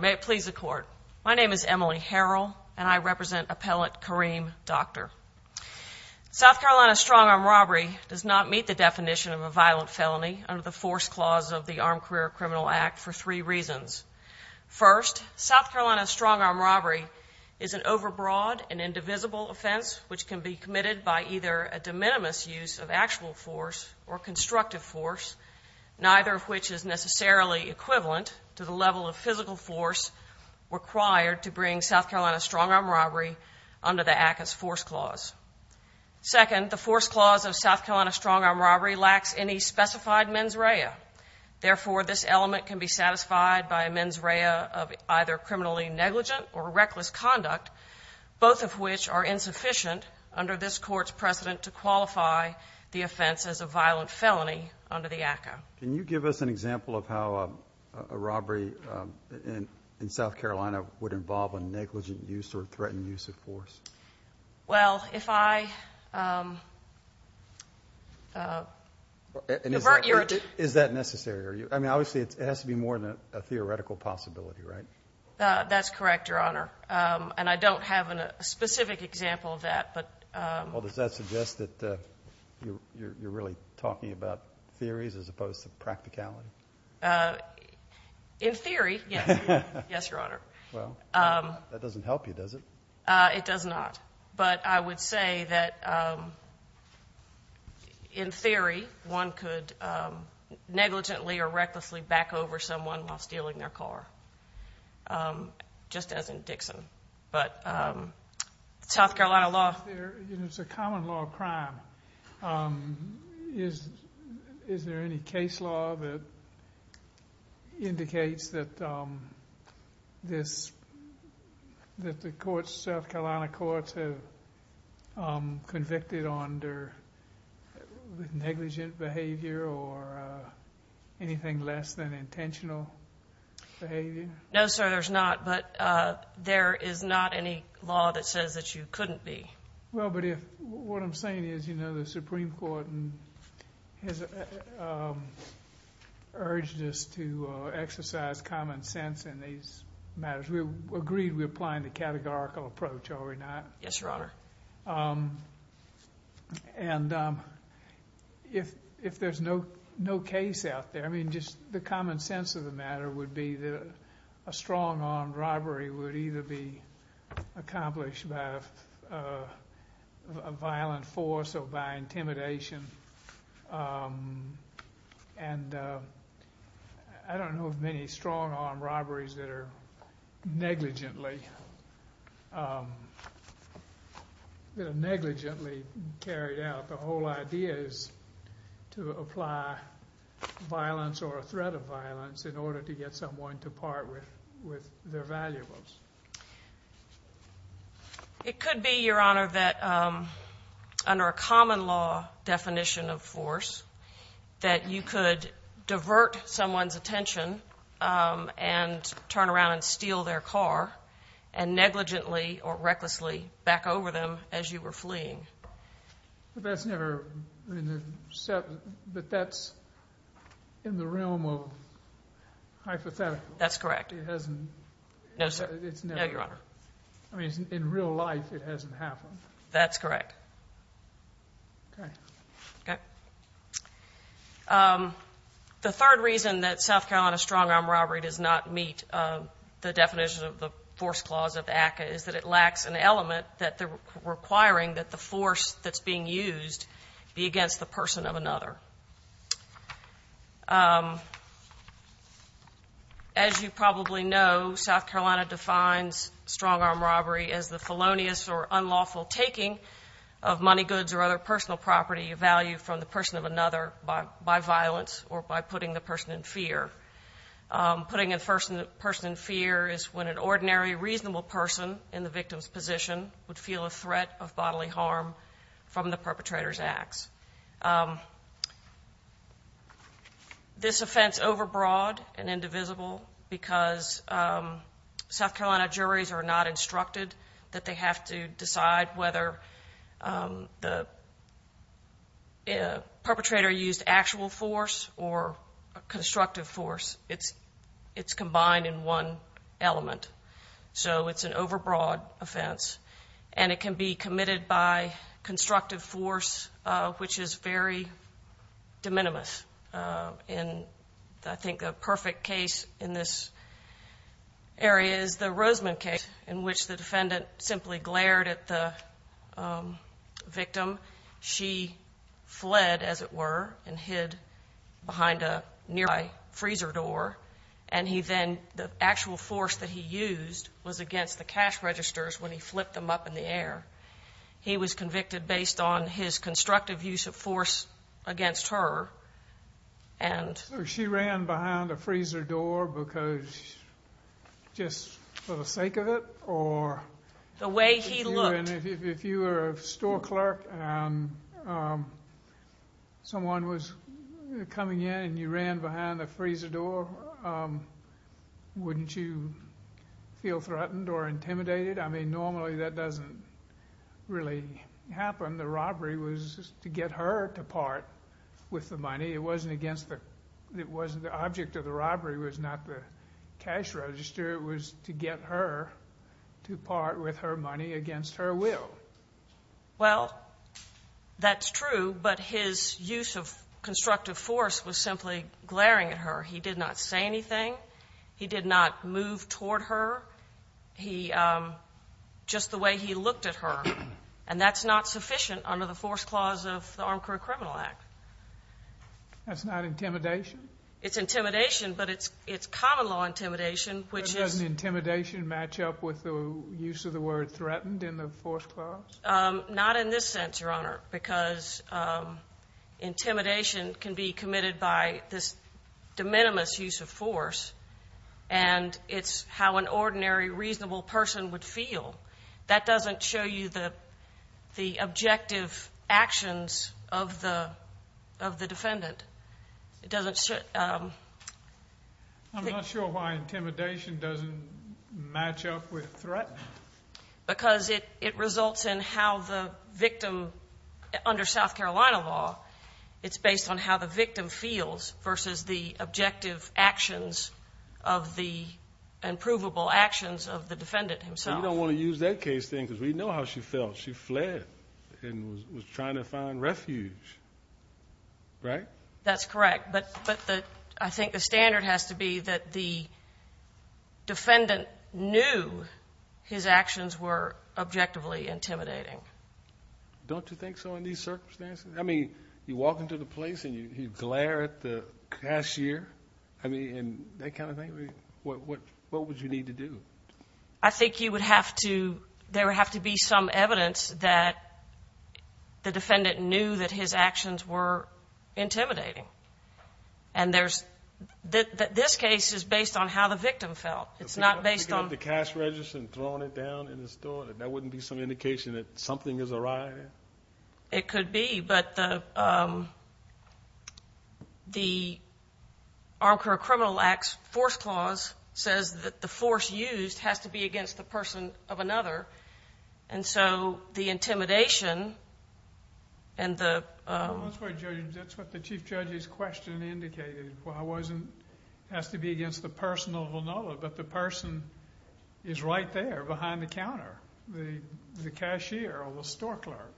May it please the court. My name is Emily Harrell and I represent appellant Kareem Doctor. South Carolina strong-arm robbery does not meet the definition of a violent felony under the force clause of the Armed Career Criminal Act for three reasons. First, South Carolina strong-arm robbery is an overbroad and indivisible offense which can be committed by either a de minimis use of actual force or constructive force, neither of which is necessarily equivalent to the level of physical force required to bring South Carolina strong-arm robbery under the Act's force clause. Second, the force clause of South Carolina strong-arm robbery lacks any specified mens rea. Therefore, this element can be satisfied by a mens rea of either criminally negligent or reckless conduct, both of which are insufficient under this court's precedent to qualify the offense as a violent felony under the ACCA. Can you give us an example of how a robbery in South Carolina would involve a negligent use or threatened use of force? Well, if I... Is that necessary? I mean, obviously, it has to be more than a theoretical possibility, right? That's correct, Your Honor, and I don't have a specific example of that, but... Well, does that suggest that you're really talking about theories as opposed to practicality? In theory, yes. Yes, Your Honor. Well, that doesn't help you, does it? It does not, but I would say that, in theory, one could negligently or recklessly back over someone while stealing their car, just as in Dixon. But South Carolina law... It's a common law of crime. Is there any case law that indicates that the South Carolina courts have convicted under negligent behavior or anything less than intentional behavior? No, sir, there's not. But there is not any law that says that you couldn't be. Well, but if... What I'm saying is, you know, the Supreme Court has urged us to exercise common sense in these matters. We agreed we're applying the categorical approach, are we not? Yes, Your Honor. And if there's no case out there, I mean, just the common sense of the matter would be that a strong-arm robbery would either be accomplished by a violent force or by intimidation. And I don't know of many strong-arm robberies that are negligently carried out. The whole idea is to apply violence or a threat of violence in order to get someone to part with their valuables. It could be, Your Honor, that under a common law definition of force, that you could divert someone's attention and turn around and steal their car and negligently or recklessly back over them as you were fleeing. But that's never in the set... But that's in the realm of hypothetical. That's correct. It hasn't... No, sir. No, Your Honor. I mean, in real life, it hasn't happened. That's correct. Okay. Okay. The third reason that South Carolina strong-arm robbery does not meet the definition of the force clause of ACCA is that it lacks an element requiring that the force that's being used be against the person of another. As you probably know, South Carolina defines strong-arm robbery as the felonious or unlawful taking of money, goods, or other personal property of value from the person of another by violence or by putting the person in fear. Putting a person in fear is when an ordinary, reasonable person in the victim's position would feel a threat of bodily harm from the perpetrator's acts. This offense is overbroad and indivisible because South Carolina juries are not instructed that they have to decide whether the perpetrator used actual force or constructive force. It's combined in one element. So it's an overbroad offense. And it can be committed by constructive force, which is very de minimis. And I think the perfect case in this area is the Roseman case in which the defendant simply glared at the victim. She fled, as it were, and hid behind a nearby freezer door. And he then the actual force that he used was against the cash registers when he flipped them up in the air. He was convicted based on his constructive use of force against her. So she ran behind a freezer door because just for the sake of it? The way he looked. If you were a store clerk and someone was coming in and you ran behind the freezer door, wouldn't you feel threatened or intimidated? I mean, normally that doesn't really happen. The robbery was to get her to part with the money. It wasn't against the—the object of the robbery was not the cash register. It was to get her to part with her money against her will. Well, that's true, but his use of constructive force was simply glaring at her. He did not say anything. He did not move toward her. He—just the way he looked at her. And that's not sufficient under the force clause of the Armed Career Criminal Act. That's not intimidation? It's intimidation, but it's common law intimidation, which is— Doesn't intimidation match up with the use of the word threatened in the force clause? Not in this sense, Your Honor, because intimidation can be committed by this de minimis use of force, and it's how an ordinary reasonable person would feel. That doesn't show you the objective actions of the defendant. It doesn't— I'm not sure why intimidation doesn't match up with threat. Because it results in how the victim, under South Carolina law, it's based on how the victim feels versus the objective actions of the— and provable actions of the defendant himself. Well, you don't want to use that case, then, because we know how she felt. She fled and was trying to find refuge, right? That's correct. But I think the standard has to be that the defendant knew his actions were objectively intimidating. Don't you think so in these circumstances? I mean, you walk into the place and you glare at the cashier and that kind of thing. What would you need to do? I think you would have to—there would have to be some evidence that the defendant knew that his actions were intimidating. And there's—this case is based on how the victim felt. It's not based on— Picking up the cash register and throwing it down in the store, that wouldn't be some indication that something is awry? It could be. But the Armed Career Criminal Act's force clause says that the force used has to be against the person of another. And so the intimidation and the— That's what the chief judge's question indicated. It has to be against the person of another, but the person is right there behind the counter, the cashier or the store clerk.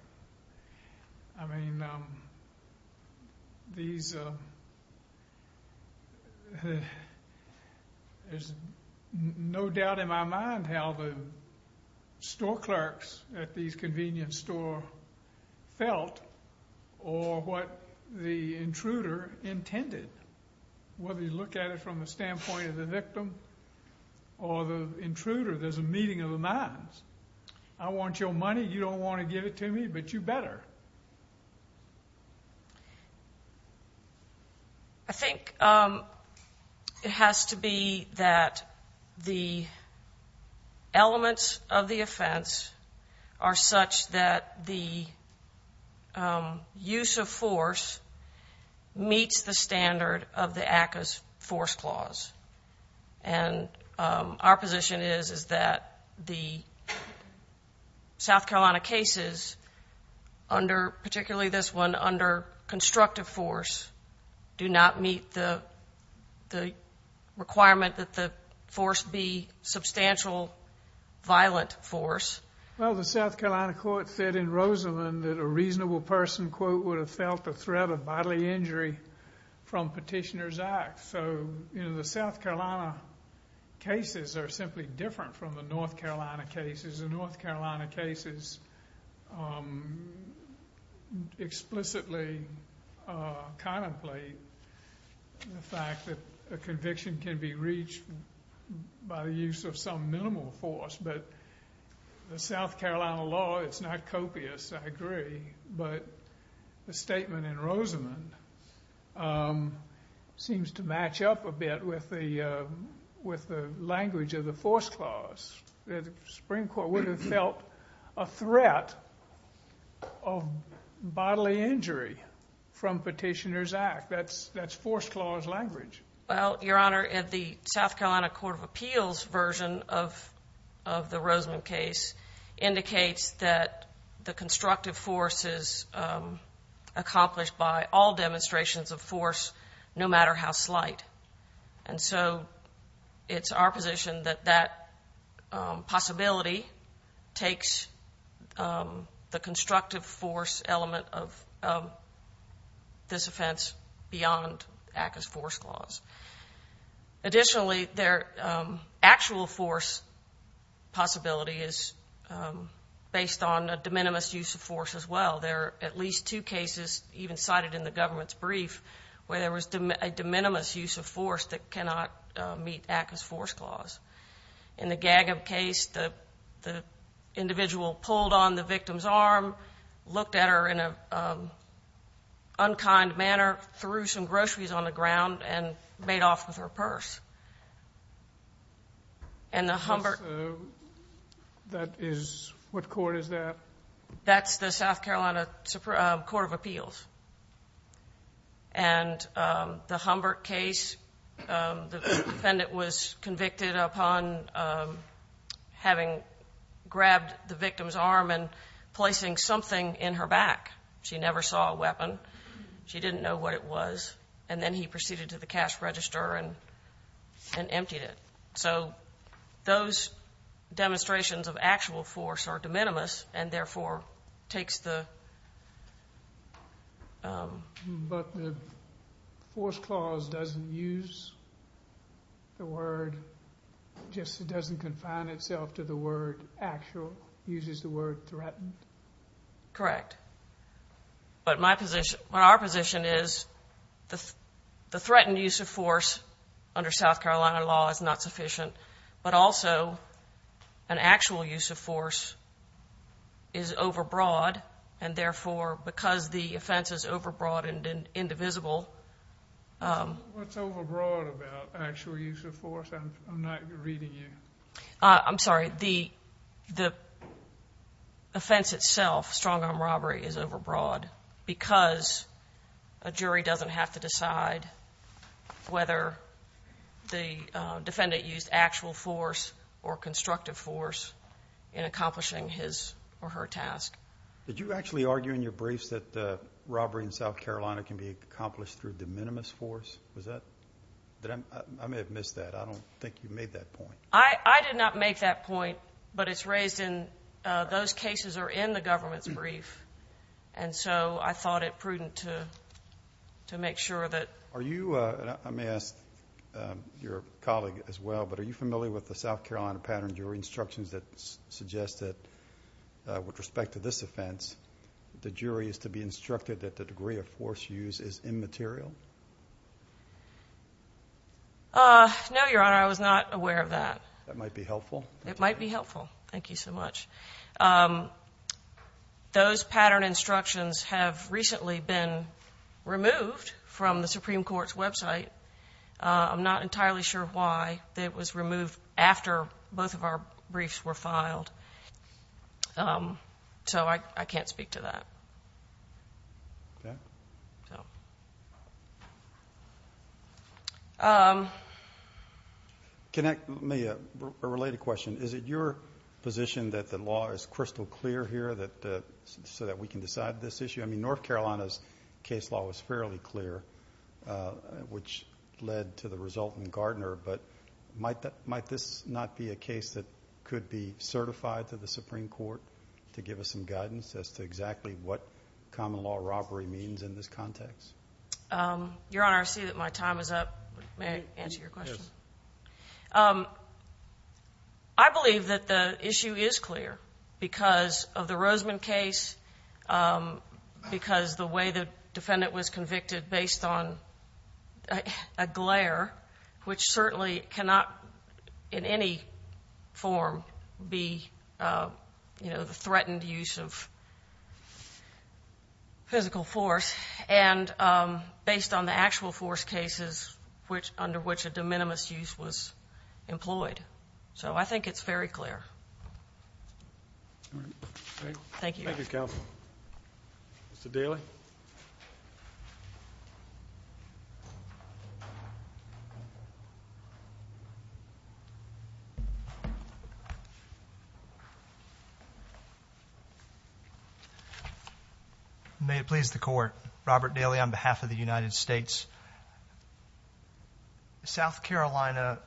I mean, these— There's no doubt in my mind how the store clerks at these convenience stores felt or what the intruder intended. Whether you look at it from the standpoint of the victim or the intruder, there's a meeting of the minds. I want your money. You don't want to give it to me, but you better. I think it has to be that the elements of the offense are such that the use of force meets the standard of the ACCA's force clause. And our position is that the South Carolina cases, particularly this one, under constructive force, do not meet the requirement that the force be substantial violent force. Well, the South Carolina court said in Rosalynn that a reasonable person, quote, would have felt the threat of bodily injury from Petitioner's Act. So, you know, the South Carolina cases are simply different from the North Carolina cases. The North Carolina cases explicitly contemplate the fact that a conviction can be reached by the use of some minimal force. But the South Carolina law, it's not copious, I agree. But the statement in Rosalynn seems to match up a bit with the language of the force clause. The Supreme Court would have felt a threat of bodily injury from Petitioner's Act. That's force clause language. Well, Your Honor, the South Carolina Court of Appeals version of the Rosalynn case indicates that the constructive force is accomplished by all demonstrations of force, no matter how slight. And so it's our position that that possibility takes the constructive force element of this offense beyond ACCA's force clause. Additionally, their actual force possibility is based on a de minimis use of force as well. There are at least two cases, even cited in the government's brief, where there was a de minimis use of force that cannot meet ACCA's force clause. In the Gagub case, the individual pulled on the victim's arm, looked at her in an unkind manner, threw some groceries on the ground, and made off with her purse. And the Humbert – So that is – what court is that? That's the South Carolina Court of Appeals. And the Humbert case, the defendant was convicted upon having grabbed the victim's arm and placing something in her back. She never saw a weapon. She didn't know what it was. And then he proceeded to the cash register and emptied it. So those demonstrations of actual force are de minimis and therefore takes the – But the force clause doesn't use the word – just doesn't confine itself to the word actual, uses the word threatened. Correct. But my position – our position is the threatened use of force under South Carolina law is not sufficient, but also an actual use of force is overbroad, and therefore, because the offense is overbroad and indivisible – What's overbroad about actual use of force? I'm not reading you. I'm sorry. The offense itself, strong-arm robbery, is overbroad because a jury doesn't have to decide whether the defendant used actual force or constructive force in accomplishing his or her task. Did you actually argue in your briefs that robbery in South Carolina can be accomplished through de minimis force? Was that – I may have missed that. I don't think you made that point. I did not make that point, but it's raised in – those cases are in the government's brief, and so I thought it prudent to make sure that – Are you – I may ask your colleague as well, but are you familiar with the South Carolina pattern jury instructions that suggest that with respect to this offense, the jury is to be instructed that the degree of force used is immaterial? No, Your Honor. I was not aware of that. That might be helpful. It might be helpful. Thank you so much. Those pattern instructions have recently been removed from the Supreme Court's website. I'm not entirely sure why it was removed after both of our briefs were filed, so I can't speak to that. Okay. So. Can I – may I – a related question. Is it your position that the law is crystal clear here so that we can decide this issue? I mean, North Carolina's case law was fairly clear, which led to the result in Gardner, but might this not be a case that could be certified to the Supreme Court to give us some guidance as to exactly what common law robbery means in this context? Your Honor, I see that my time is up. May I answer your question? Yes. I believe that the issue is clear because of the Roseman case, which certainly cannot in any form be, you know, the threatened use of physical force, and based on the actual force cases under which a de minimis use was employed. So I think it's very clear. Thank you, counsel. Mr. Daly. May it please the Court. Robert Daly on behalf of the United States. South Carolina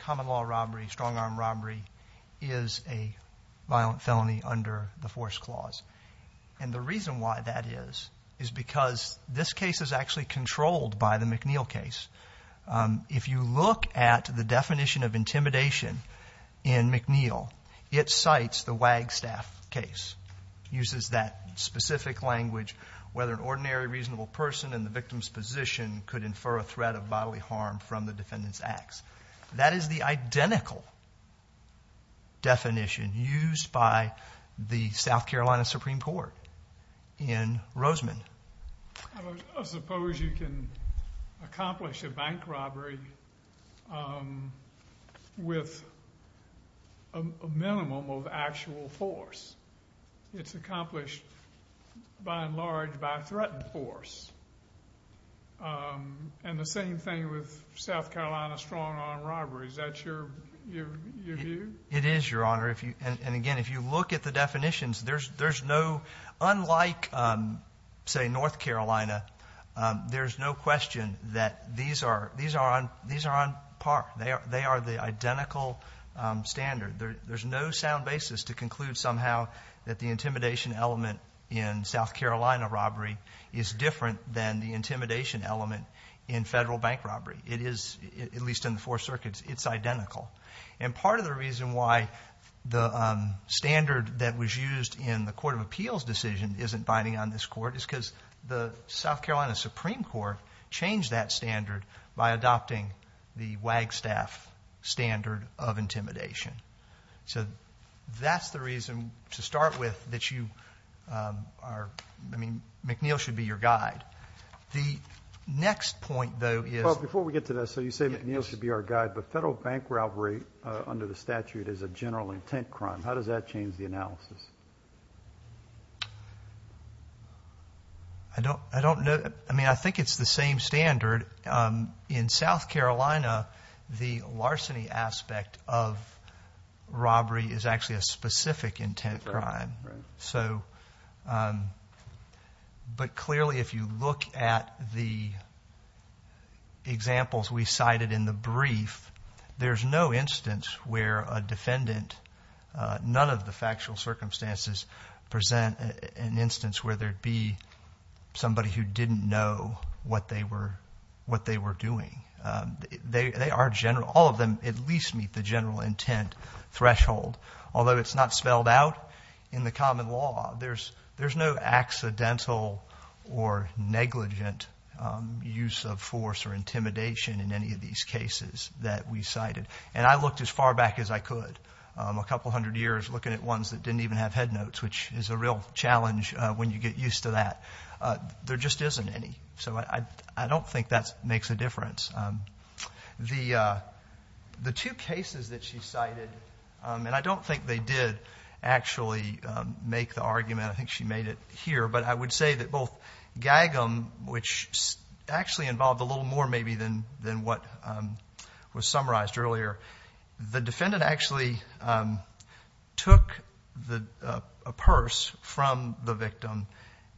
common law robbery, strong arm robbery, is a violent felony under the force clause, and the reason why that is is because this case is actually controlled by the McNeil case. If you look at the definition of intimidation in McNeil, it cites the Wagstaff case, uses that specific language, whether an ordinary reasonable person in the victim's position could infer a threat of bodily harm from the defendant's acts. That is the identical definition used by the South Carolina Supreme Court in Roseman. I suppose you can accomplish a bank robbery with a minimum of actual force. It's accomplished, by and large, by threatened force. And the same thing with South Carolina strong arm robbery. Is that your view? It is, Your Honor. And again, if you look at the definitions, there's no, unlike, say, North Carolina, there's no question that these are on par. They are the identical standard. There's no sound basis to conclude somehow that the intimidation element in South Carolina robbery is different than the intimidation element in federal bank robbery. It is, at least in the four circuits, it's identical. And part of the reason why the standard that was used in the court of appeals decision isn't binding on this court is because the South Carolina Supreme Court changed that standard by adopting the Wagstaff standard of intimidation. So that's the reason to start with that you are, I mean, McNeil should be your guide. The next point, though, is... ...robbery under the statute is a general intent crime. How does that change the analysis? I don't know. I mean, I think it's the same standard. In South Carolina, the larceny aspect of robbery is actually a specific intent crime. So, but clearly if you look at the examples we cited in the brief, there's no instance where a defendant, none of the factual circumstances present an instance where there'd be somebody who didn't know what they were doing. They are general. All of them at least meet the general intent threshold. Although it's not spelled out in the common law, there's no accidental or negligent use of force or intimidation in any of these cases that we cited. And I looked as far back as I could, a couple hundred years, looking at ones that didn't even have head notes, which is a real challenge when you get used to that. There just isn't any. So I don't think that makes a difference. The two cases that she cited, and I don't think they did actually make the argument, I think she made it here, but I would say that both Gagum, which actually involved a little more maybe than what was summarized earlier, the defendant actually took a purse from the victim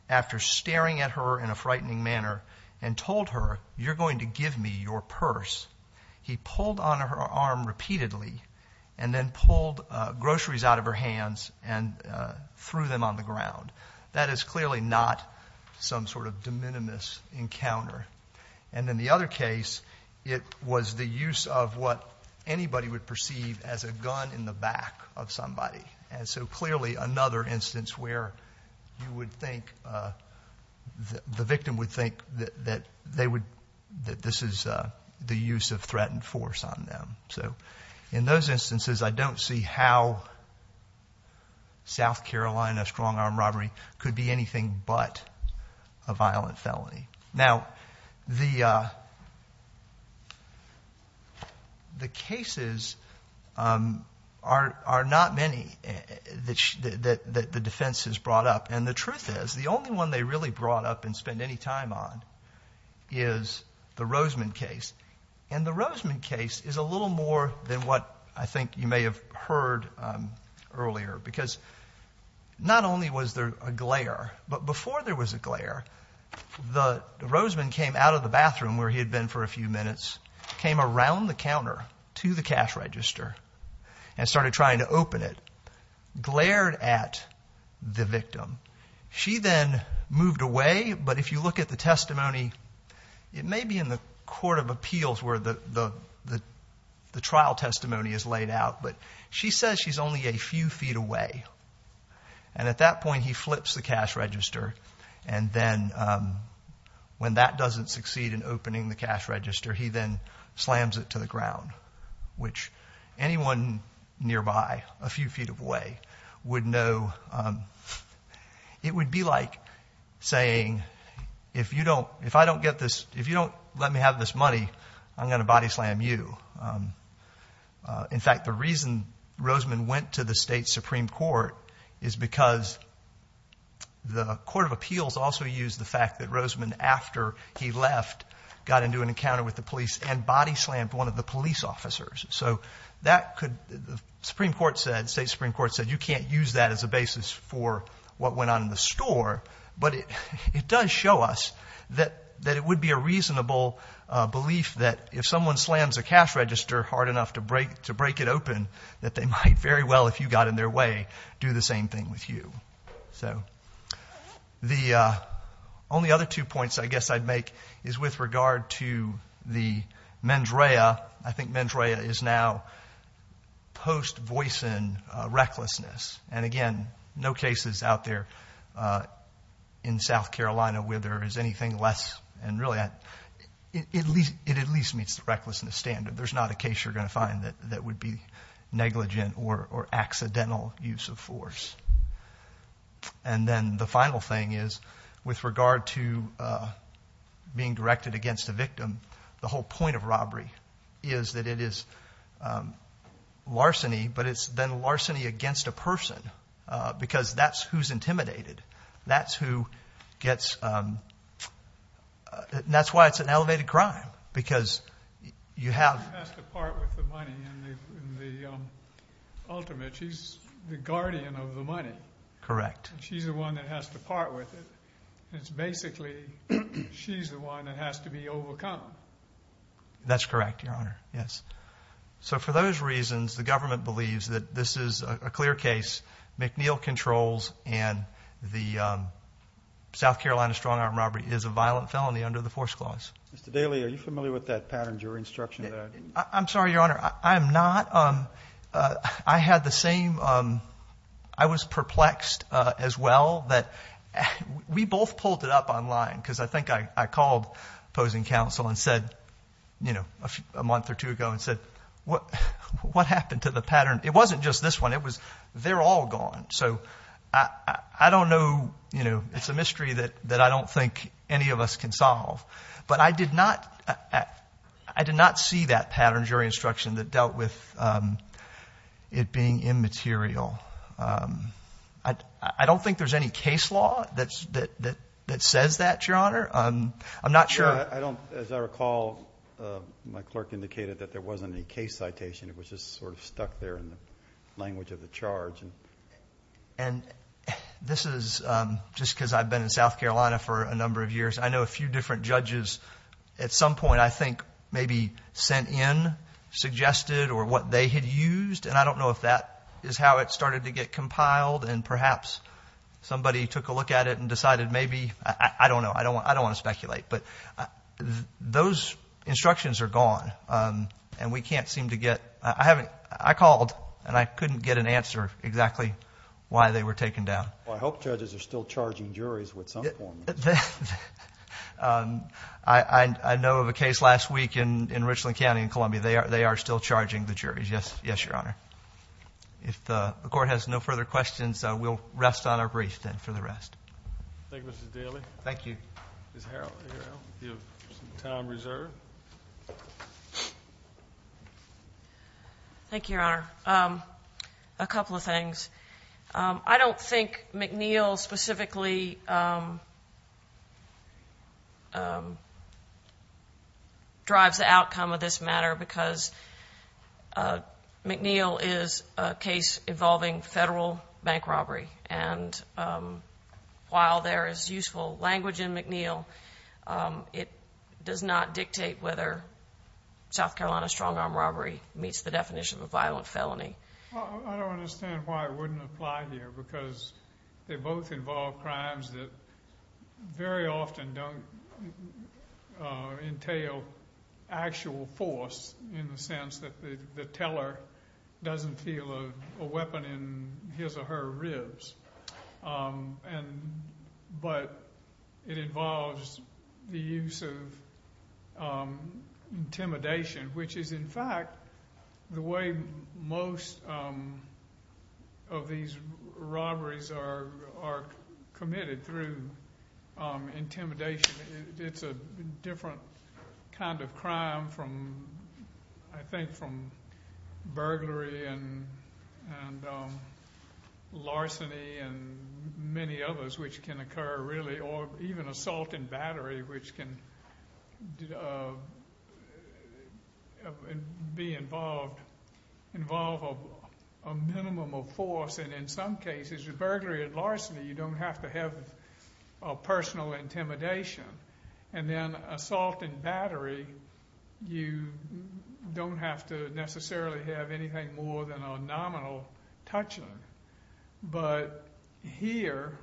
after staring at her in a frightening manner and told her, you're going to give me your purse. He pulled on her arm repeatedly and then pulled groceries out of her hands and threw them on the ground. That is clearly not some sort of de minimis encounter. And in the other case, it was the use of what anybody would perceive as a gun in the back of somebody. And so clearly another instance where the victim would think that this is the use of threatened force on them. So in those instances, I don't see how South Carolina strong-arm robbery could be anything but a violent felony. Now, the cases are not many that the defense has brought up. And the truth is the only one they really brought up and spent any time on is the Rosman case. And the Rosman case is a little more than what I think you may have heard earlier, because not only was there a glare, but before there was a glare, the Rosman came out of the bathroom where he had been for a few minutes, came around the counter to the cash register and started trying to open it, glared at the victim. She then moved away, but if you look at the testimony, it may be in the court of appeals where the trial testimony is laid out, but she says she's only a few feet away. And at that point, he flips the cash register, and then when that doesn't succeed in opening the cash register, he then slams it to the ground, which anyone nearby a few feet away would know it would be like saying, if you don't let me have this money, I'm going to body slam you. In fact, the reason Rosman went to the state supreme court is because the court of appeals also used the fact that Rosman, after he left, got into an encounter with the police and body slammed one of the police officers. So the state supreme court said you can't use that as a basis for what went on in the store, but it does show us that it would be a reasonable belief that if someone slams a cash register hard enough to break it open, that they might very well, if you got in their way, do the same thing with you. So the only other two points I guess I'd make is with regard to the mens rea. I think mens rea is now post-voicing recklessness. And again, no cases out there in South Carolina where there is anything less, and really it at least meets the recklessness standard. There's not a case you're going to find that would be negligent or accidental use of force. And then the final thing is with regard to being directed against a victim, the whole point of robbery is that it is larceny, but it's then larceny against a person because that's who's intimidated. That's why it's an elevated crime because you have. She has to part with the money in the ultimate. She's the guardian of the money. Correct. She's the one that has to part with it. It's basically she's the one that has to be overcome. That's correct, Your Honor. Yes. So for those reasons, the government believes that this is a clear case. McNeil controls and the South Carolina strong-arm robbery is a violent felony under the force clause. Mr. Daley, are you familiar with that pattern, your instruction there? I'm sorry, Your Honor. I'm not. I had the same. I was perplexed as well that we both pulled it up online because I think I called opposing counsel and said, you know, a month or two ago and said, what happened to the pattern? It wasn't just this one. It was they're all gone. So I don't know. You know, it's a mystery that I don't think any of us can solve. But I did not see that pattern, your instruction, that dealt with it being immaterial. I don't think there's any case law that says that, Your Honor. I'm not sure. As I recall, my clerk indicated that there wasn't any case citation. It was just sort of stuck there in the language of the charge. And this is just because I've been in South Carolina for a number of years. I know a few different judges at some point I think maybe sent in, suggested, or what they had used. And I don't know if that is how it started to get compiled. And perhaps somebody took a look at it and decided maybe. I don't know. I don't want to speculate. But those instructions are gone, and we can't seem to get. I called, and I couldn't get an answer exactly why they were taken down. Well, I hope judges are still charging juries with some form. I know of a case last week in Richland County in Columbia. They are still charging the juries. Yes, Your Honor. If the court has no further questions, we'll rest on our brief then for the rest. Thank you, Mr. Daly. Thank you. Ms. Harrell, do you have some time reserved? Thank you, Your Honor. A couple of things. I don't think McNeil specifically drives the outcome of this matter because McNeil is a case involving federal bank robbery. And while there is useful language in McNeil, it does not dictate whether South Carolina strong-arm robbery meets the definition of a violent felony. I don't understand why it wouldn't apply here because they both involve crimes that very often don't entail actual force in the sense that the teller doesn't feel a weapon in his or her ribs. But it involves the use of intimidation, which is, in fact, the way most of these robberies are committed through intimidation. It's a different kind of crime, I think, from burglary and larceny and many others which can occur, really, or even assault and battery, which can be involved, involve a minimum of force. And in some cases, with burglary and larceny, you don't have to have personal intimidation. And then assault and battery, you don't have to necessarily have anything more than a nominal touching. But here,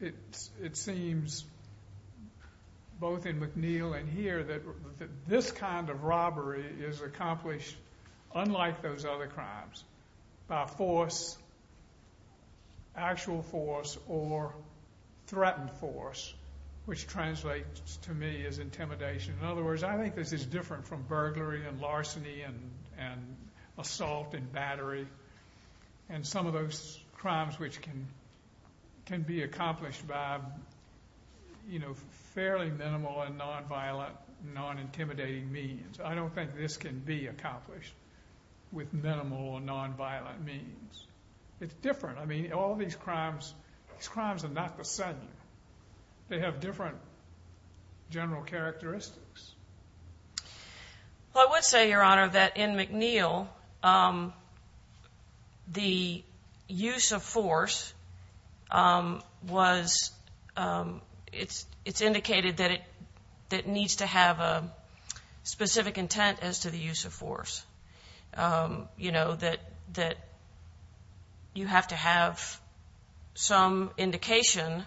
it seems, both in McNeil and here, that this kind of robbery is accomplished, unlike those other crimes, by force, actual force, or threatened force, which translates to me as intimidation. In other words, I think this is different from burglary and larceny and assault and battery and some of those crimes which can be accomplished by, you know, fairly minimal and nonviolent, non-intimidating means. I don't think this can be accomplished with minimal and nonviolent means. It's different. I mean, all these crimes are not the same. They have different general characteristics. Well, I would say, Your Honor, that in McNeil, the use of force was, it's indicated that it needs to have a specific intent as to the use of force. You know, that you have to have some indication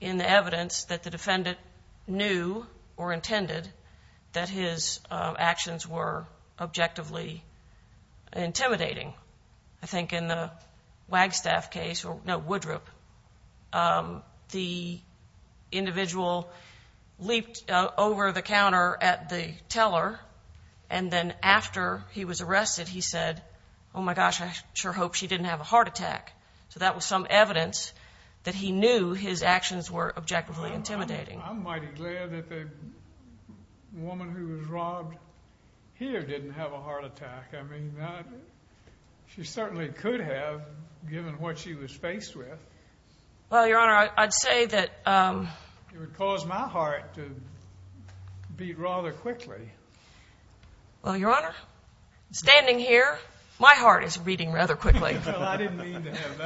in the evidence that the defendant knew or intended that his actions were objectively intimidating. I think in the Wagstaff case, no, Woodroup, the individual leaped over the counter at the teller, and then after he was arrested, he said, Oh, my gosh, I sure hope she didn't have a heart attack. So that was some evidence that he knew his actions were objectively intimidating. I'm mighty glad that the woman who was robbed here didn't have a heart attack. I mean, she certainly could have, given what she was faced with. Well, Your Honor, I'd say that... It would cause my heart to beat rather quickly. Well, Your Honor, standing here, my heart is beating rather quickly. Well, I didn't mean to have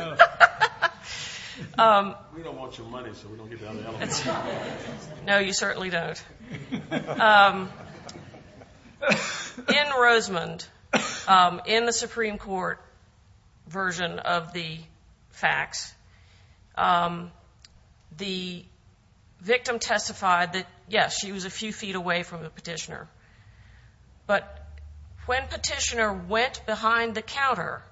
that. We don't want your money, so we don't get the other elements. No, you certainly don't. In Rosemond, in the Supreme Court version of the facts, the victim testified that, yes, she was a few feet away from the petitioner, but when petitioner went behind the counter,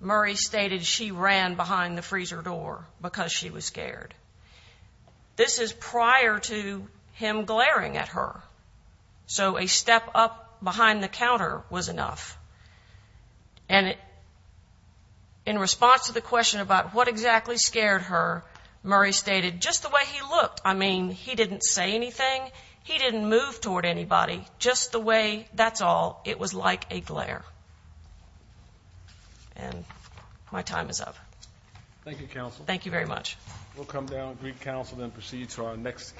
Murray stated she ran behind the freezer door because she was scared. This is prior to him glaring at her. So a step up behind the counter was enough. And in response to the question about what exactly scared her, Murray stated, Just the way he looked. I mean, he didn't say anything. He didn't move toward anybody. Just the way, that's all. And my time is up. Thank you, counsel. Thank you very much. We'll come down with Greek counsel and proceed to our next case.